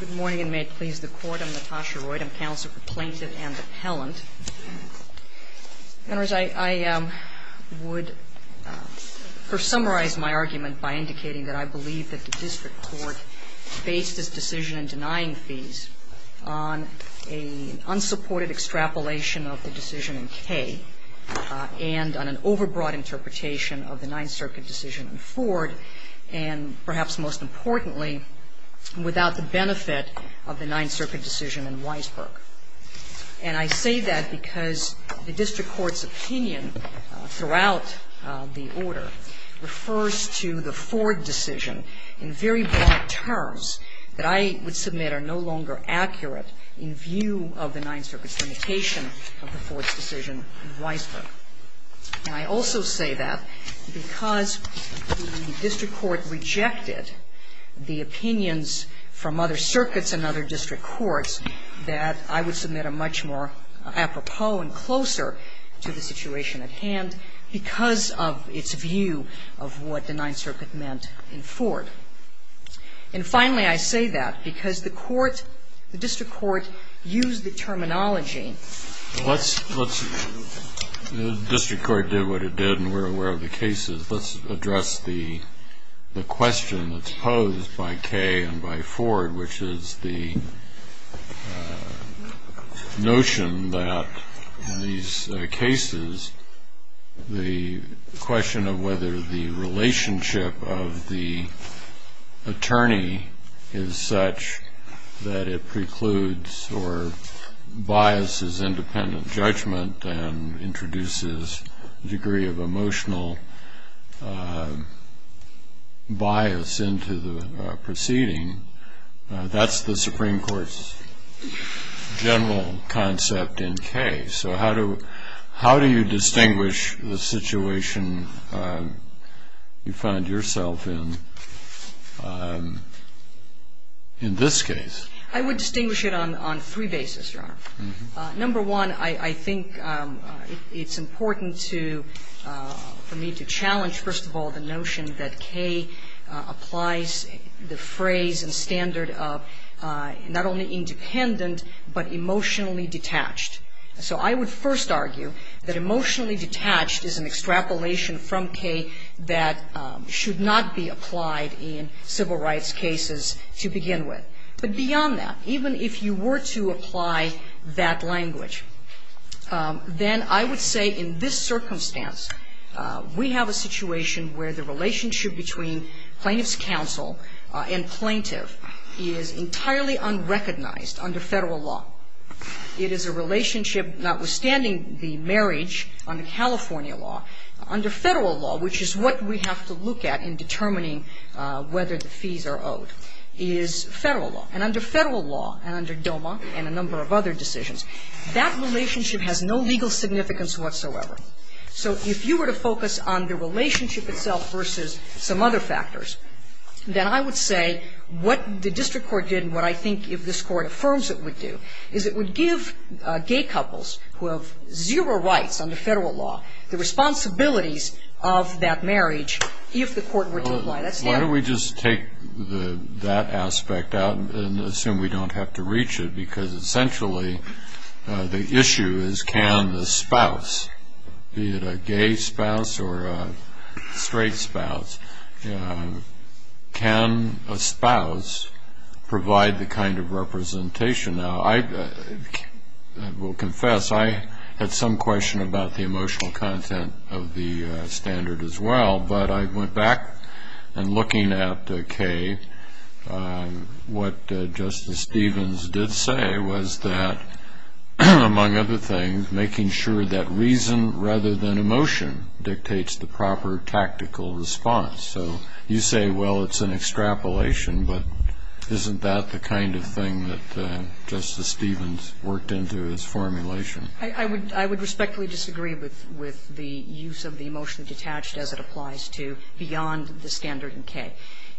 Good morning and may it please the Court, I'm Natasha Royd. I'm Counsel for Plaintiff and Appellant. I would first summarize my argument by indicating that I believe that the District Court based its decision in denying fees on an unsupported extrapolation of the decision in K and on an overbroad interpretation of the Ninth Circuit decision in Ford and perhaps most importantly, without the benefit of the Ninth Circuit decision in Weisberg. And I say that because the District Court's opinion throughout the order refers to the Ford decision in very broad terms that I would submit are no longer accurate in view of the Ninth Circuit's limitation of the Ford's decision in Weisberg. And I also say that because the District Court rejected the opinions from other circuits and other district courts that I would submit a much more apropos and closer to the situation at hand because of its view of what the Ninth Circuit meant in Ford. And finally, I say that because the court, the District Court used the terminology Let's, let's, the District Court did what it did and we're aware of the cases. Let's address the question that's posed by K and by Ford, which is the notion that in these cases, the question of whether the relationship of the attorney is such that it precludes or biases independent judgment and introduces a degree of emotional bias into the proceeding, that's the Supreme Court's general concept in K. So how do, how do you distinguish the situation you find yourself in, in this case? I would distinguish it on three bases, Your Honor. Number one, I think it's important to, for me to challenge, first of all, the notion that K applies the phrase and standard of not only independent, but emotionally detached. So I would first argue that emotionally detached is an extrapolation from K that should not be applied in civil rights cases to begin with. But beyond that, even if you were to apply that language, then I would say in this circumstance, we have a situation where the relationship between plaintiff's counsel and plaintiff is entirely unrecognized under Federal law. It is a relationship, notwithstanding the marriage under California law, under Federal law, which is what we have to look at in determining whether the fees are owed, is Federal law. And under Federal law, and under DOMA, and a number of other decisions, that relationship has no legal significance whatsoever. So if you were to focus on the relationship itself versus some other factors, then I would say what the district court did, and what I think if this Court affirms it would do, is it would give gay couples who have zero rights under Federal law the responsibilities of that marriage if the court were to apply that standard. Why don't we just take that aspect out and assume we don't have to reach it, because essentially the issue is can the spouse, be it a gay spouse or a straight spouse, can a spouse provide the kind of representation. Now, I will confess I had some question about the emotional content of the standard as well, but I went back and looking at Kay, what Justice Stevens did say was that, among other things, making sure that reason rather than emotion dictates the proper tactical response. So you say, well, it's an extrapolation, but isn't that the kind of thing that Justice Stevens worked into his formulation? I would respectfully disagree with the use of the emotionally detached as it applies to beyond the standard in Kay.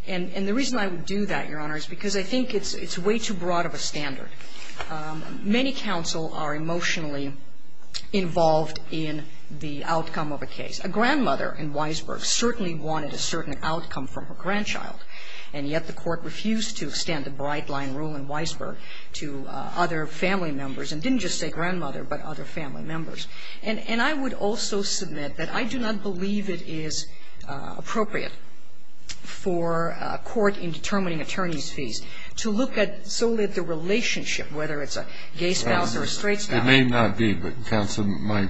And the reason I would do that, Your Honor, is because I think it's way too broad of a standard. Many counsel are emotionally involved in the outcome of a case. A grandmother in Weisberg certainly wanted a certain outcome from her grandchild, and yet the Court refused to extend the bright-line rule in Weisberg to other family members, and didn't just say grandmother, but other family members. And I would also submit that I do not believe it is appropriate for a court in determining attorney's fees to look at solely at the relationship, whether it's a gay spouse or a straight spouse. It may not be, but, counsel, my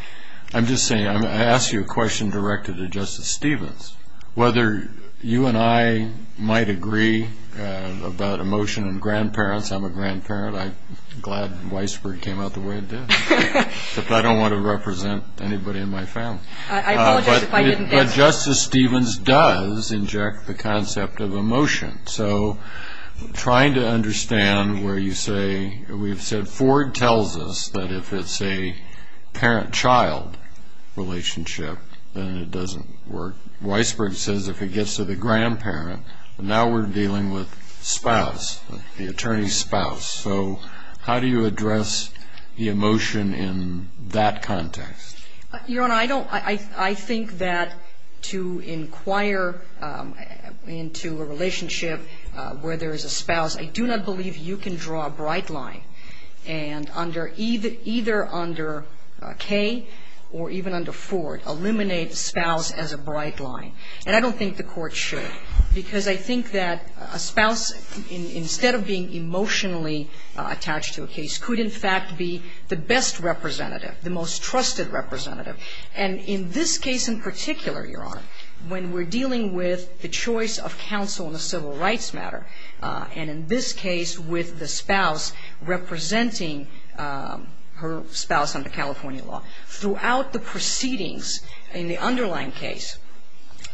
— I'm just saying, I'm going to ask you a question directed to Justice Stevens. Whether you and I might agree about emotion in grandparents — I'm a grandparent, I'm glad Weisberg came out the way it did — whether you and I might agree about emotion in grandparents — I'm a grandparent, I'm glad Weisberg came out the way it did — if I don't want to represent anybody in my family. I apologize if I didn't answer. But Justice Stevens does inject the concept of emotion. So trying to understand where you say — we've said Ford tells us that if it's a parent-child relationship, then it doesn't work. Weisberg says if it gets to the grandparent, now we're dealing with spouse, the attorney's spouse. So how do you address the emotion in that context? Your Honor, I don't — I think that to inquire into a relationship where there is a spouse, I do not believe you can draw a bright line and under — either under Kay or even under Ford, eliminate spouse as a bright line. And I don't think the spouse, instead of being emotionally attached to a case, could in fact be the best representative, the most trusted representative. And in this case in particular, Your Honor, when we're dealing with the choice of counsel in a civil rights matter, and in this case with the spouse representing her spouse under California law, throughout the proceedings in the underlying case,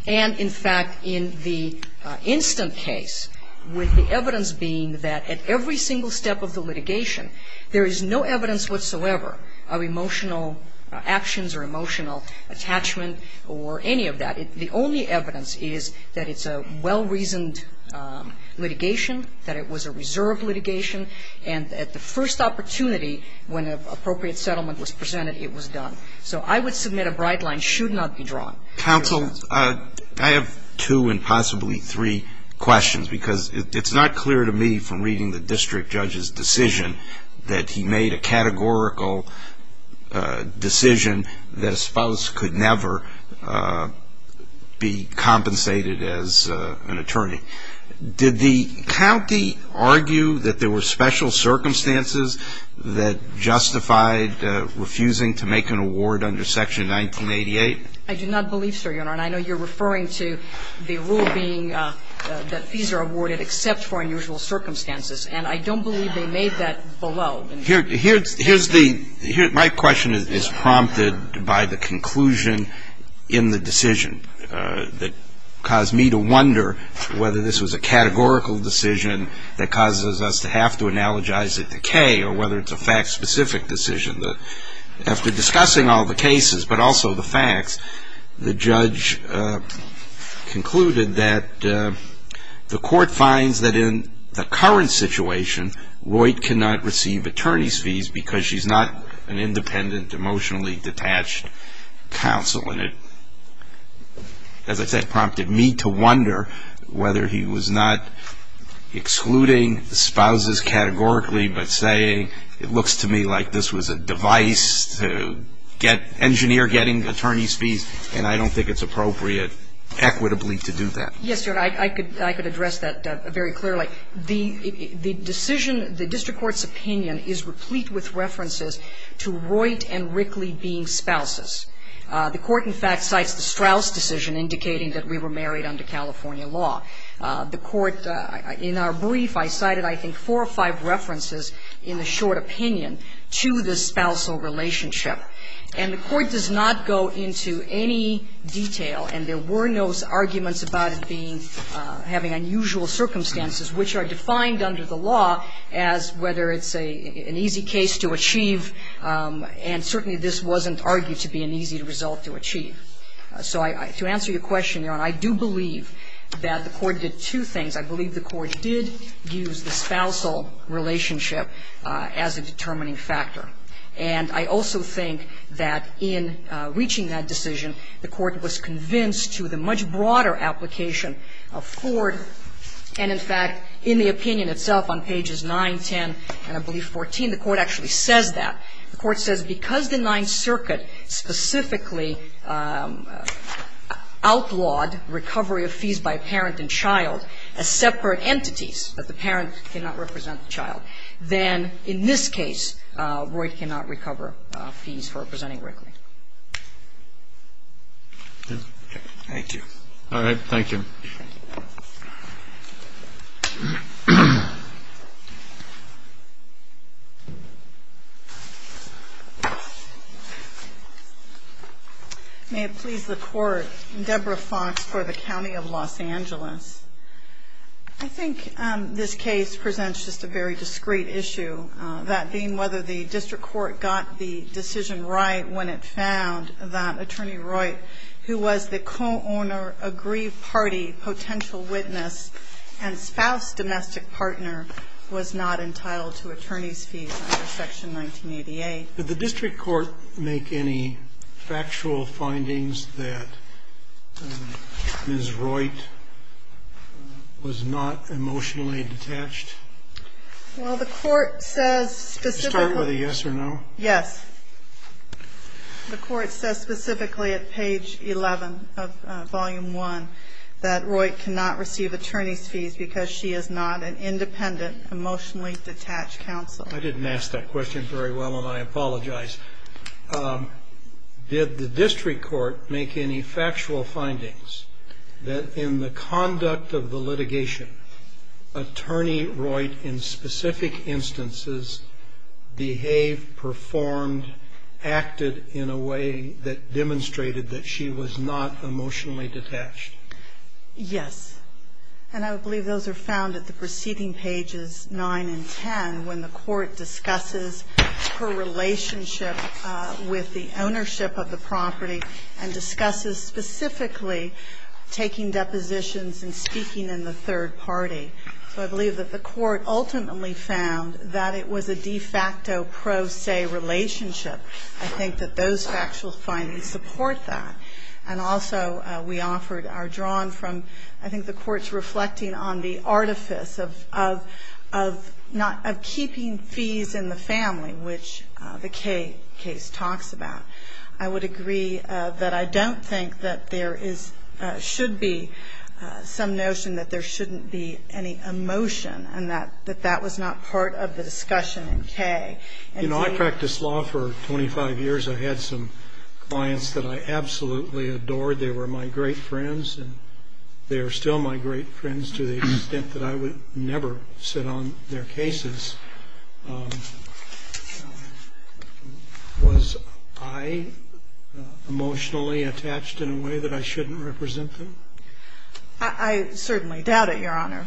and in fact in the instant case, with the evidence being that at every single step of the litigation, there is no evidence whatsoever of emotional actions or emotional attachment or any of that. The only evidence is that it's a well-reasoned litigation, that it was a reserve litigation, and at the first opportunity when an appropriate settlement was presented, it was done. So I would submit a bright line should not be drawn. Counsel, I have two and possibly three questions, because it's not clear to me from reading the district judge's decision that he made a categorical decision that a spouse could never be compensated as an attorney. Did the county argue that there were special circumstances that justified refusing to make an award under Section 1988? I do not believe so, Your Honor, and I know you're referring to the rule being that fees are awarded except for unusual circumstances, and I don't believe they made that below. My question is prompted by the conclusion in the decision that caused me to wonder whether this was a categorical decision that causes us to have to analogize it to K or whether it's a fact-specific decision. After discussing all the cases but also the facts, the judge concluded that the court finds that in the current situation, Roy cannot receive attorney's fees because she's not an independent, emotionally detached counsel, and it, as I said, prompted me to wonder whether he was not excluding spouses categorically, but saying it looks to me like this was a device to engineer getting attorney's fees, and I don't think it's appropriate equitably to do that. Yes, Your Honor, I could address that very clearly. The decision, the district court's opinion is replete with references to Roy and Rickley being spouses. The court, in fact, cites the Straus decision indicating that we were married under California law. The court, in our brief, I cited, I think, four or five references in the short opinion to the spousal relationship. And the court does not go into any detail, and there were no arguments about it being, having unusual circumstances, which are defined under the law as whether it's an easy case to achieve, and certainly this wasn't argued to be an easy result to achieve. So to answer your question, Your Honor, I do believe that the court did two things. I believe the court did use the spousal relationship as a determining factor. And I also think that in reaching that decision, the court was convinced to the much broader application of Ford, and in fact, in the opinion itself on pages 9, 10, and I believe 14, the court actually says that. The court says because the Ninth Circuit specifically outlawed recovery of fees by a parent and child as separate entities, that the parent cannot represent the child, then in this case, Roy cannot recover fees for representing Rickley. Thank you. All right. Thank you. May it please the Court, Deborah Fox for the County of Los Angeles. I think this case presents just a very discreet issue, that being whether the district court got the decision right when it found that Attorney Roy, who was the co-owner, aggrieved party, potential witness, and spouse, domestic partner, was not entitled to attorney's fees under Section 1988. Did the district court make any factual findings that Ms. Royt was not emotionally detached? Well, the court says specifically at page 11 of Volume 1, that Royt cannot receive attorney's fees because she is not an independent. Emotionally detached counsel. I didn't ask that question very well, and I apologize. Did the district court make any factual findings that in the conduct of the litigation, Attorney Royt, in specific instances, behaved, performed, acted in a way that demonstrated that she was not emotionally detached? Yes. And I believe those are found at the preceding pages 9 and 10, when the court discusses her relationship with the ownership of the property, and discusses specifically taking depositions and speaking in the third party. So I believe that the court ultimately found that it was a de facto pro se relationship. I think that those factual findings support that. And also, we offered our drawing from, I think the court's reflecting on the artifice of keeping fees in the family, which the Kaye case talks about. I would agree that I don't think that there should be some notion that there shouldn't be any emotion, and that that was not part of the discussion in Kaye. You know, I practiced law for 25 years. I had some clients that I absolutely adored. They were my great friends, and they are still my great friends to the extent that I would never sit on their cases. Was I emotionally attached in a way that I shouldn't represent them? I certainly doubt it, Your Honor.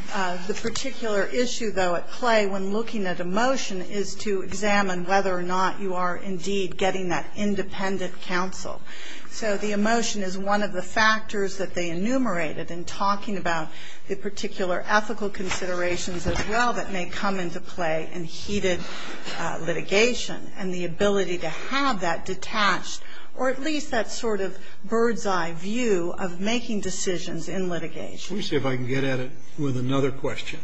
The particular issue, though, at play when looking at emotion is to examine whether or not you are indeed getting that independent counsel. So the emotion is one of the factors that they enumerated in talking about the particular ethical considerations as well that may come into play in heated litigation, and the ability to have that detached, or at least that sort of bird's-eye view of making decisions in litigation. Let me see if I can get at it with another question.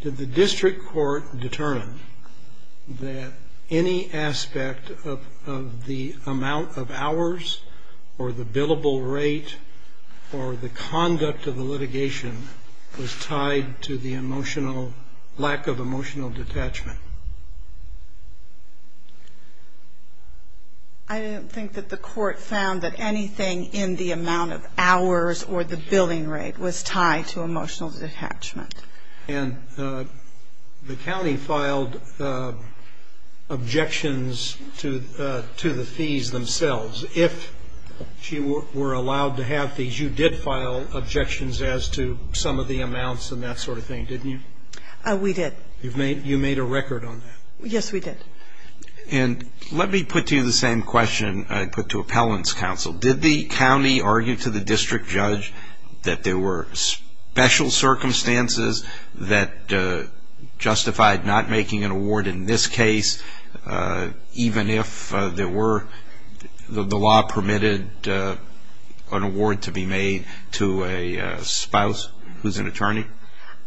Did the district court determine that any aspect of the amount of hours, or the billable rate, or the conduct of the litigation was tied to the emotional lack of emotional detachment? I don't think that the court found that anything in the amount of hours or the billing rate was tied to emotional detachment. And the county filed objections to the fees themselves. If she were allowed to have fees, you did file objections as to some of the amounts and that sort of thing, didn't you? We did. You made a record on that. Yes, we did. And let me put to you the same question I put to appellants counsel. Did the county argue to the district judge that there were special circumstances that justified not making an award in this case, even if there were, the law permitted an award to be made to a spouse who's an attorney?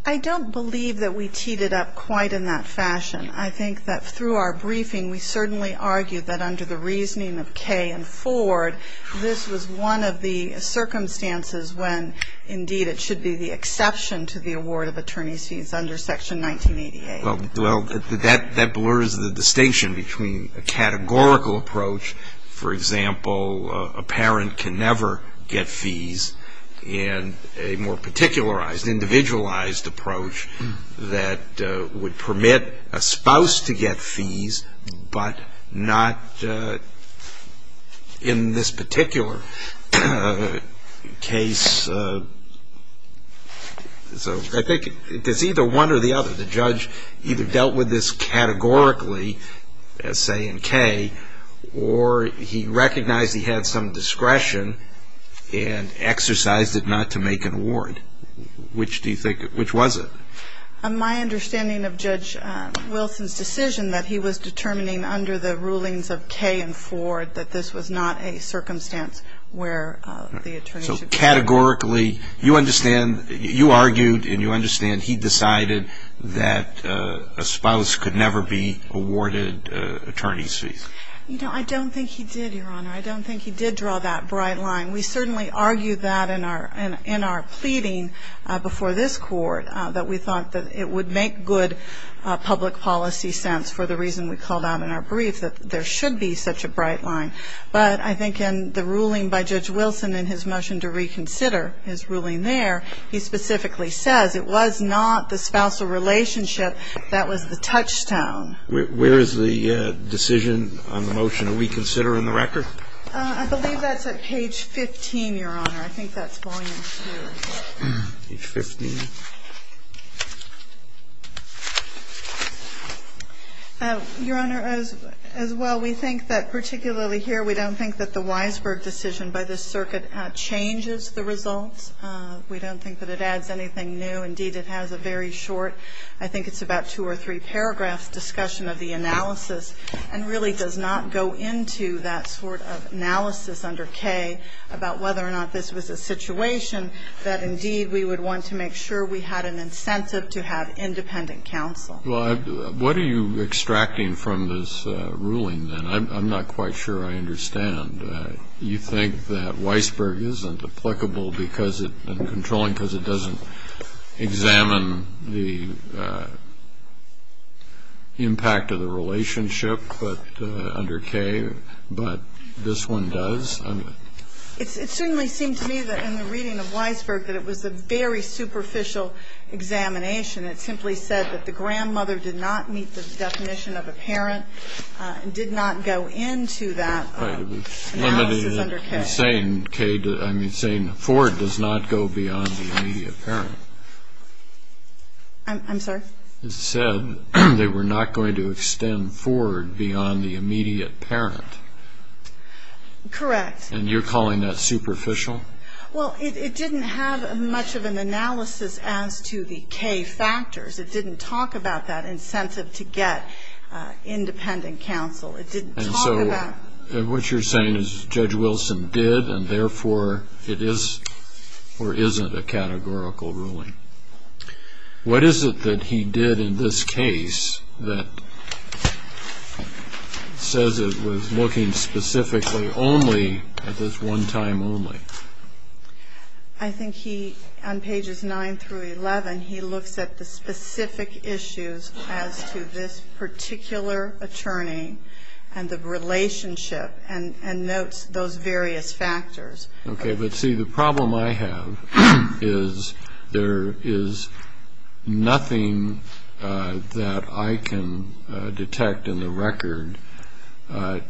I don't believe that we teed it up quite in that fashion. I think that through our briefing, we certainly argued that under the reasoning of Kay and Ford, this was one of the circumstances when, indeed, it should be the exception to the award of attorney's fees under Section 1988. Well, that blurs the distinction between a categorical approach, for example, a parent can never get fees, and a more particularized, individualized approach that would permit a spouse to get fees, but not in this particular case. So I think it's either one or the other. The judge either dealt with this categorically, as say in Kay, or he recognized he had some discretion and exercised it not to make an award. Which do you think, which was it? My understanding of Judge Wilson's decision that he was determining under the rulings of Kay and Ford that this was not a circumstance where the attorney should be awarded. So categorically, you understand, you argued and you understand he decided that a spouse could never be awarded attorney's fees. You know, I don't think he did, Your Honor. I don't think he did draw that bright line. We certainly argued that in our pleading before this Court, that we thought that it would make good public policy sense for the reason we called out in our brief, that there should be such a bright line. But I think in the ruling by Judge Wilson in his motion to reconsider his relationship, that was the touchstone. Where is the decision on the motion that we consider in the record? I believe that's at page 15, Your Honor. I think that's volume two. Page 15. Your Honor, as well, we think that particularly here we don't think that the Weisberg decision by this circuit changes the results. We don't think that it adds anything new. Indeed, it has a very short, I think it's about two or three paragraphs, discussion of the analysis, and really does not go into that sort of analysis under K about whether or not this was a situation that, indeed, we would want to make sure we had an incentive to have independent counsel. Well, what are you extracting from this ruling, then? I'm not quite sure I understand. You think that Weisberg isn't applicable because it, and controlling because it doesn't examine the impact of the relationship under K, but this one does? It certainly seemed to me that in the reading of Weisberg that it was a very superficial examination. It simply said that the grandmother did not meet the definition of a parent and did not go into that analysis under K. I'm saying K, I'm saying Ford does not go beyond the immediate parent. I'm sorry? It said they were not going to extend Ford beyond the immediate parent. Correct. And you're calling that superficial? Well, it didn't have much of an analysis as to the K factors. It didn't talk about that incentive to get independent counsel. And so what you're saying is Judge Wilson did and, therefore, it is or isn't a categorical ruling. What is it that he did in this case that says it was looking specifically only at this one time only? I think he, on pages 9 through 11, he looks at the specific issues as to this particular attorney and the relationship and notes those various factors. Okay. But, see, the problem I have is there is nothing that I can detect in the record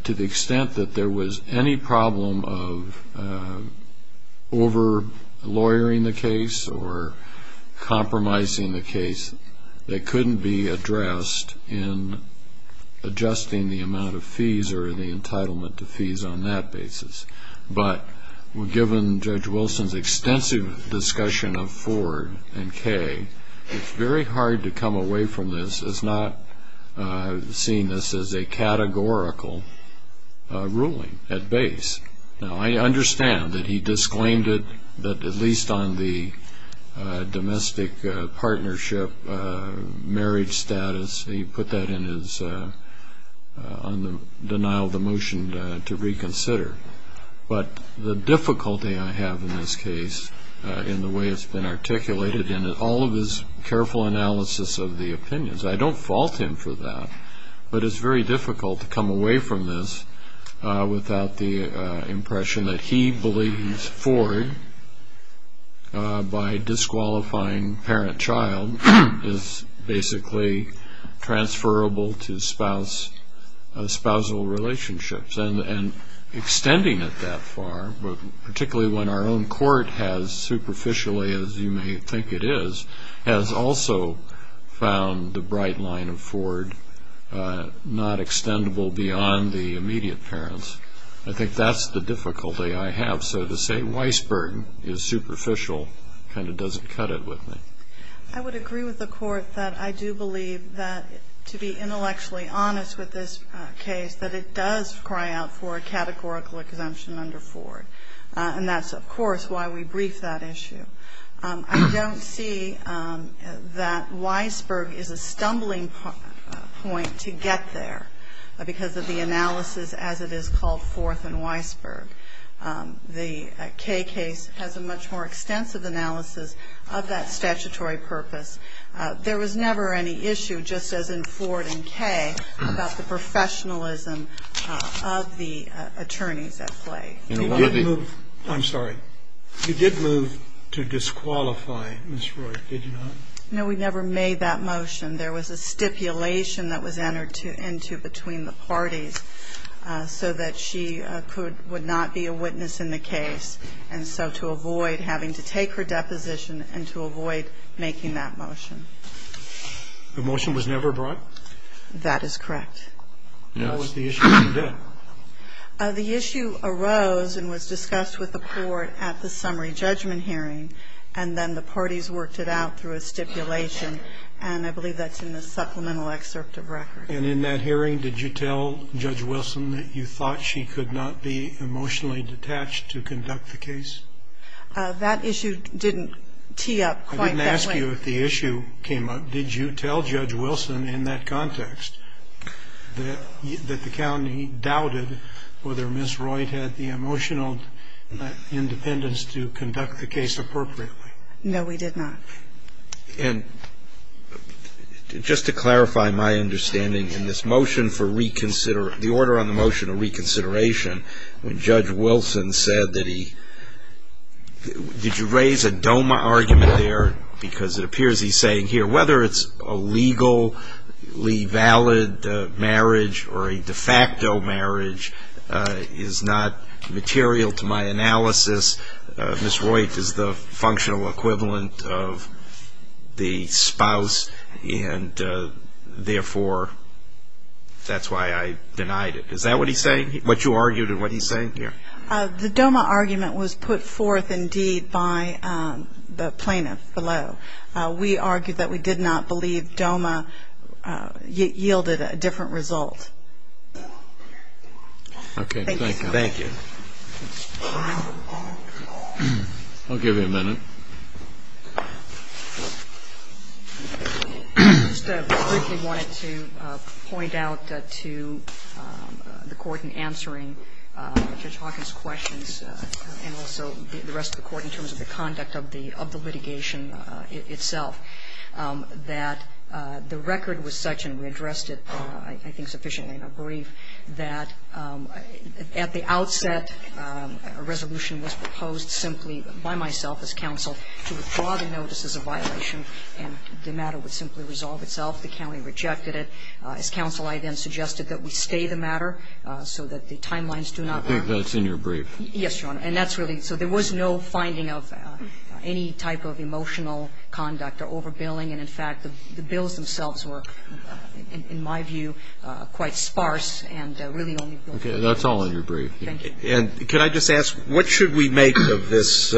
to the extent that there was any problem of over-lawyering the case or compromising the case that couldn't be addressed in adjusting the amount of fees or the entitlement to fees on that basis. But given Judge Wilson's extensive discussion of Ford and K, it's very hard to come away from this as not seeing this as a categorical ruling at base. Now, I understand that he disclaimed it at least on the domestic partnership marriage status. He put that in his denial of the motion to reconsider. But the difficulty I have in this case in the way it's been articulated and all of his careful analysis of the opinions, I don't fault him for that, but it's very difficult to come away from this without the impression that he believes Ford, by disqualifying parent-child, is basically transferable to spousal relationships. And extending it that far, particularly when our own court has, superficially as you may think it is, has also found the bright line of Ford not extendable beyond the immediate parents, I think that's the difficulty I have. So to say Weisberg is superficial kind of doesn't cut it with me. I would agree with the court that I do believe that, to be intellectually honest with this case, that it does cry out for a categorical exemption under Ford. And that's, of course, why we briefed that issue. I don't see that Weisberg is a stumbling point to get there because of the analysis as it is called forth in Weisberg. The Kay case has a much more extensive analysis of that statutory purpose. There was never any issue, just as in Ford and Kay, I'm sorry. You did move to disqualify Ms. Roy, did you not? No, we never made that motion. There was a stipulation that was entered into between the parties so that she would not be a witness in the case. And so to avoid having to take her deposition and to avoid making that motion. The motion was never brought? That is correct. What was the issue you did? The issue arose and was discussed with the court at the summary judgment hearing and then the parties worked it out through a stipulation. And I believe that's in the supplemental excerpt of record. And in that hearing, did you tell Judge Wilson that you thought she could not be emotionally detached to conduct the case? That issue didn't tee up quite that way. I didn't ask you if the issue came up. Did you tell Judge Wilson in that context that the county doubted whether Ms. Roy had the emotional independence to conduct the case appropriately? No, we did not. And just to clarify my understanding in this motion for reconsideration, the order on the motion of reconsideration, when Judge Wilson said that he, did you raise a DOMA argument there? Because it appears he's saying here whether it's a legally valid marriage or a de facto marriage is not material to my analysis. Ms. Roy is the functional equivalent of the spouse and therefore that's why I denied it. Is that what he's saying, what you argued and what he's saying here? The DOMA argument was put forth indeed by the plaintiff below. We argued that we did not believe DOMA yielded a different result. Thank you. I'll give you a minute. I just briefly wanted to point out to the Court in answering Judge Hawkins' questions and also the rest of the Court in terms of the conduct of the litigation itself that the record was such and we addressed it I think sufficiently in our brief that at the outset a resolution was proposed simply by myself as counsel to withdraw the notice as a violation and the matter would simply resolve itself. The county rejected it. As counsel I then suggested that we stay the matter so that the timelines do not vary. I think that's in your brief. Yes, Your Honor. And that's really, so there was no finding of any type of emotional conduct or overbilling and in fact the bills themselves were in my view quite sparse and really only billed. Okay, that's all in your brief. Thank you. And can I just ask what should we make of this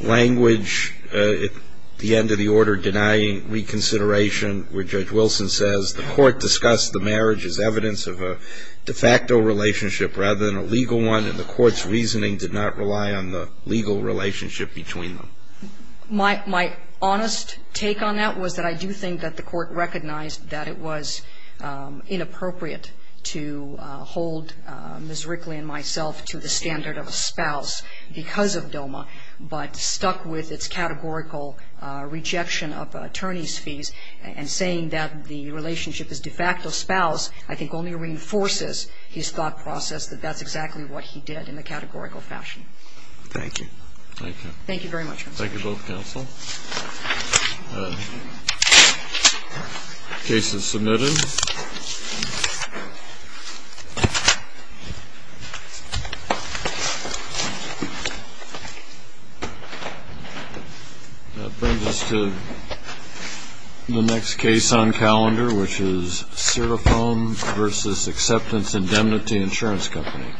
language at the end of the order denying reconsideration where Judge Wilson says the Court discussed the marriage as evidence of a de facto relationship rather than a legal one and the Court's reasoning did not rely on the legal relationship between them? My honest take on that was that I do think that the Court recognized that it was to the standard of a spouse because of DOMA but stuck with its categorical rejection of attorney's fees and saying that the relationship is de facto spouse I think only reinforces his thought process that that's exactly what he did in a categorical fashion. Thank you. Thank you. Thank you very much, counsel. Thank you both, counsel. Case is submitted. Thank you. That brings us to the next case on calendar which is Serafoam v. Acceptance Indemnity Insurance Company.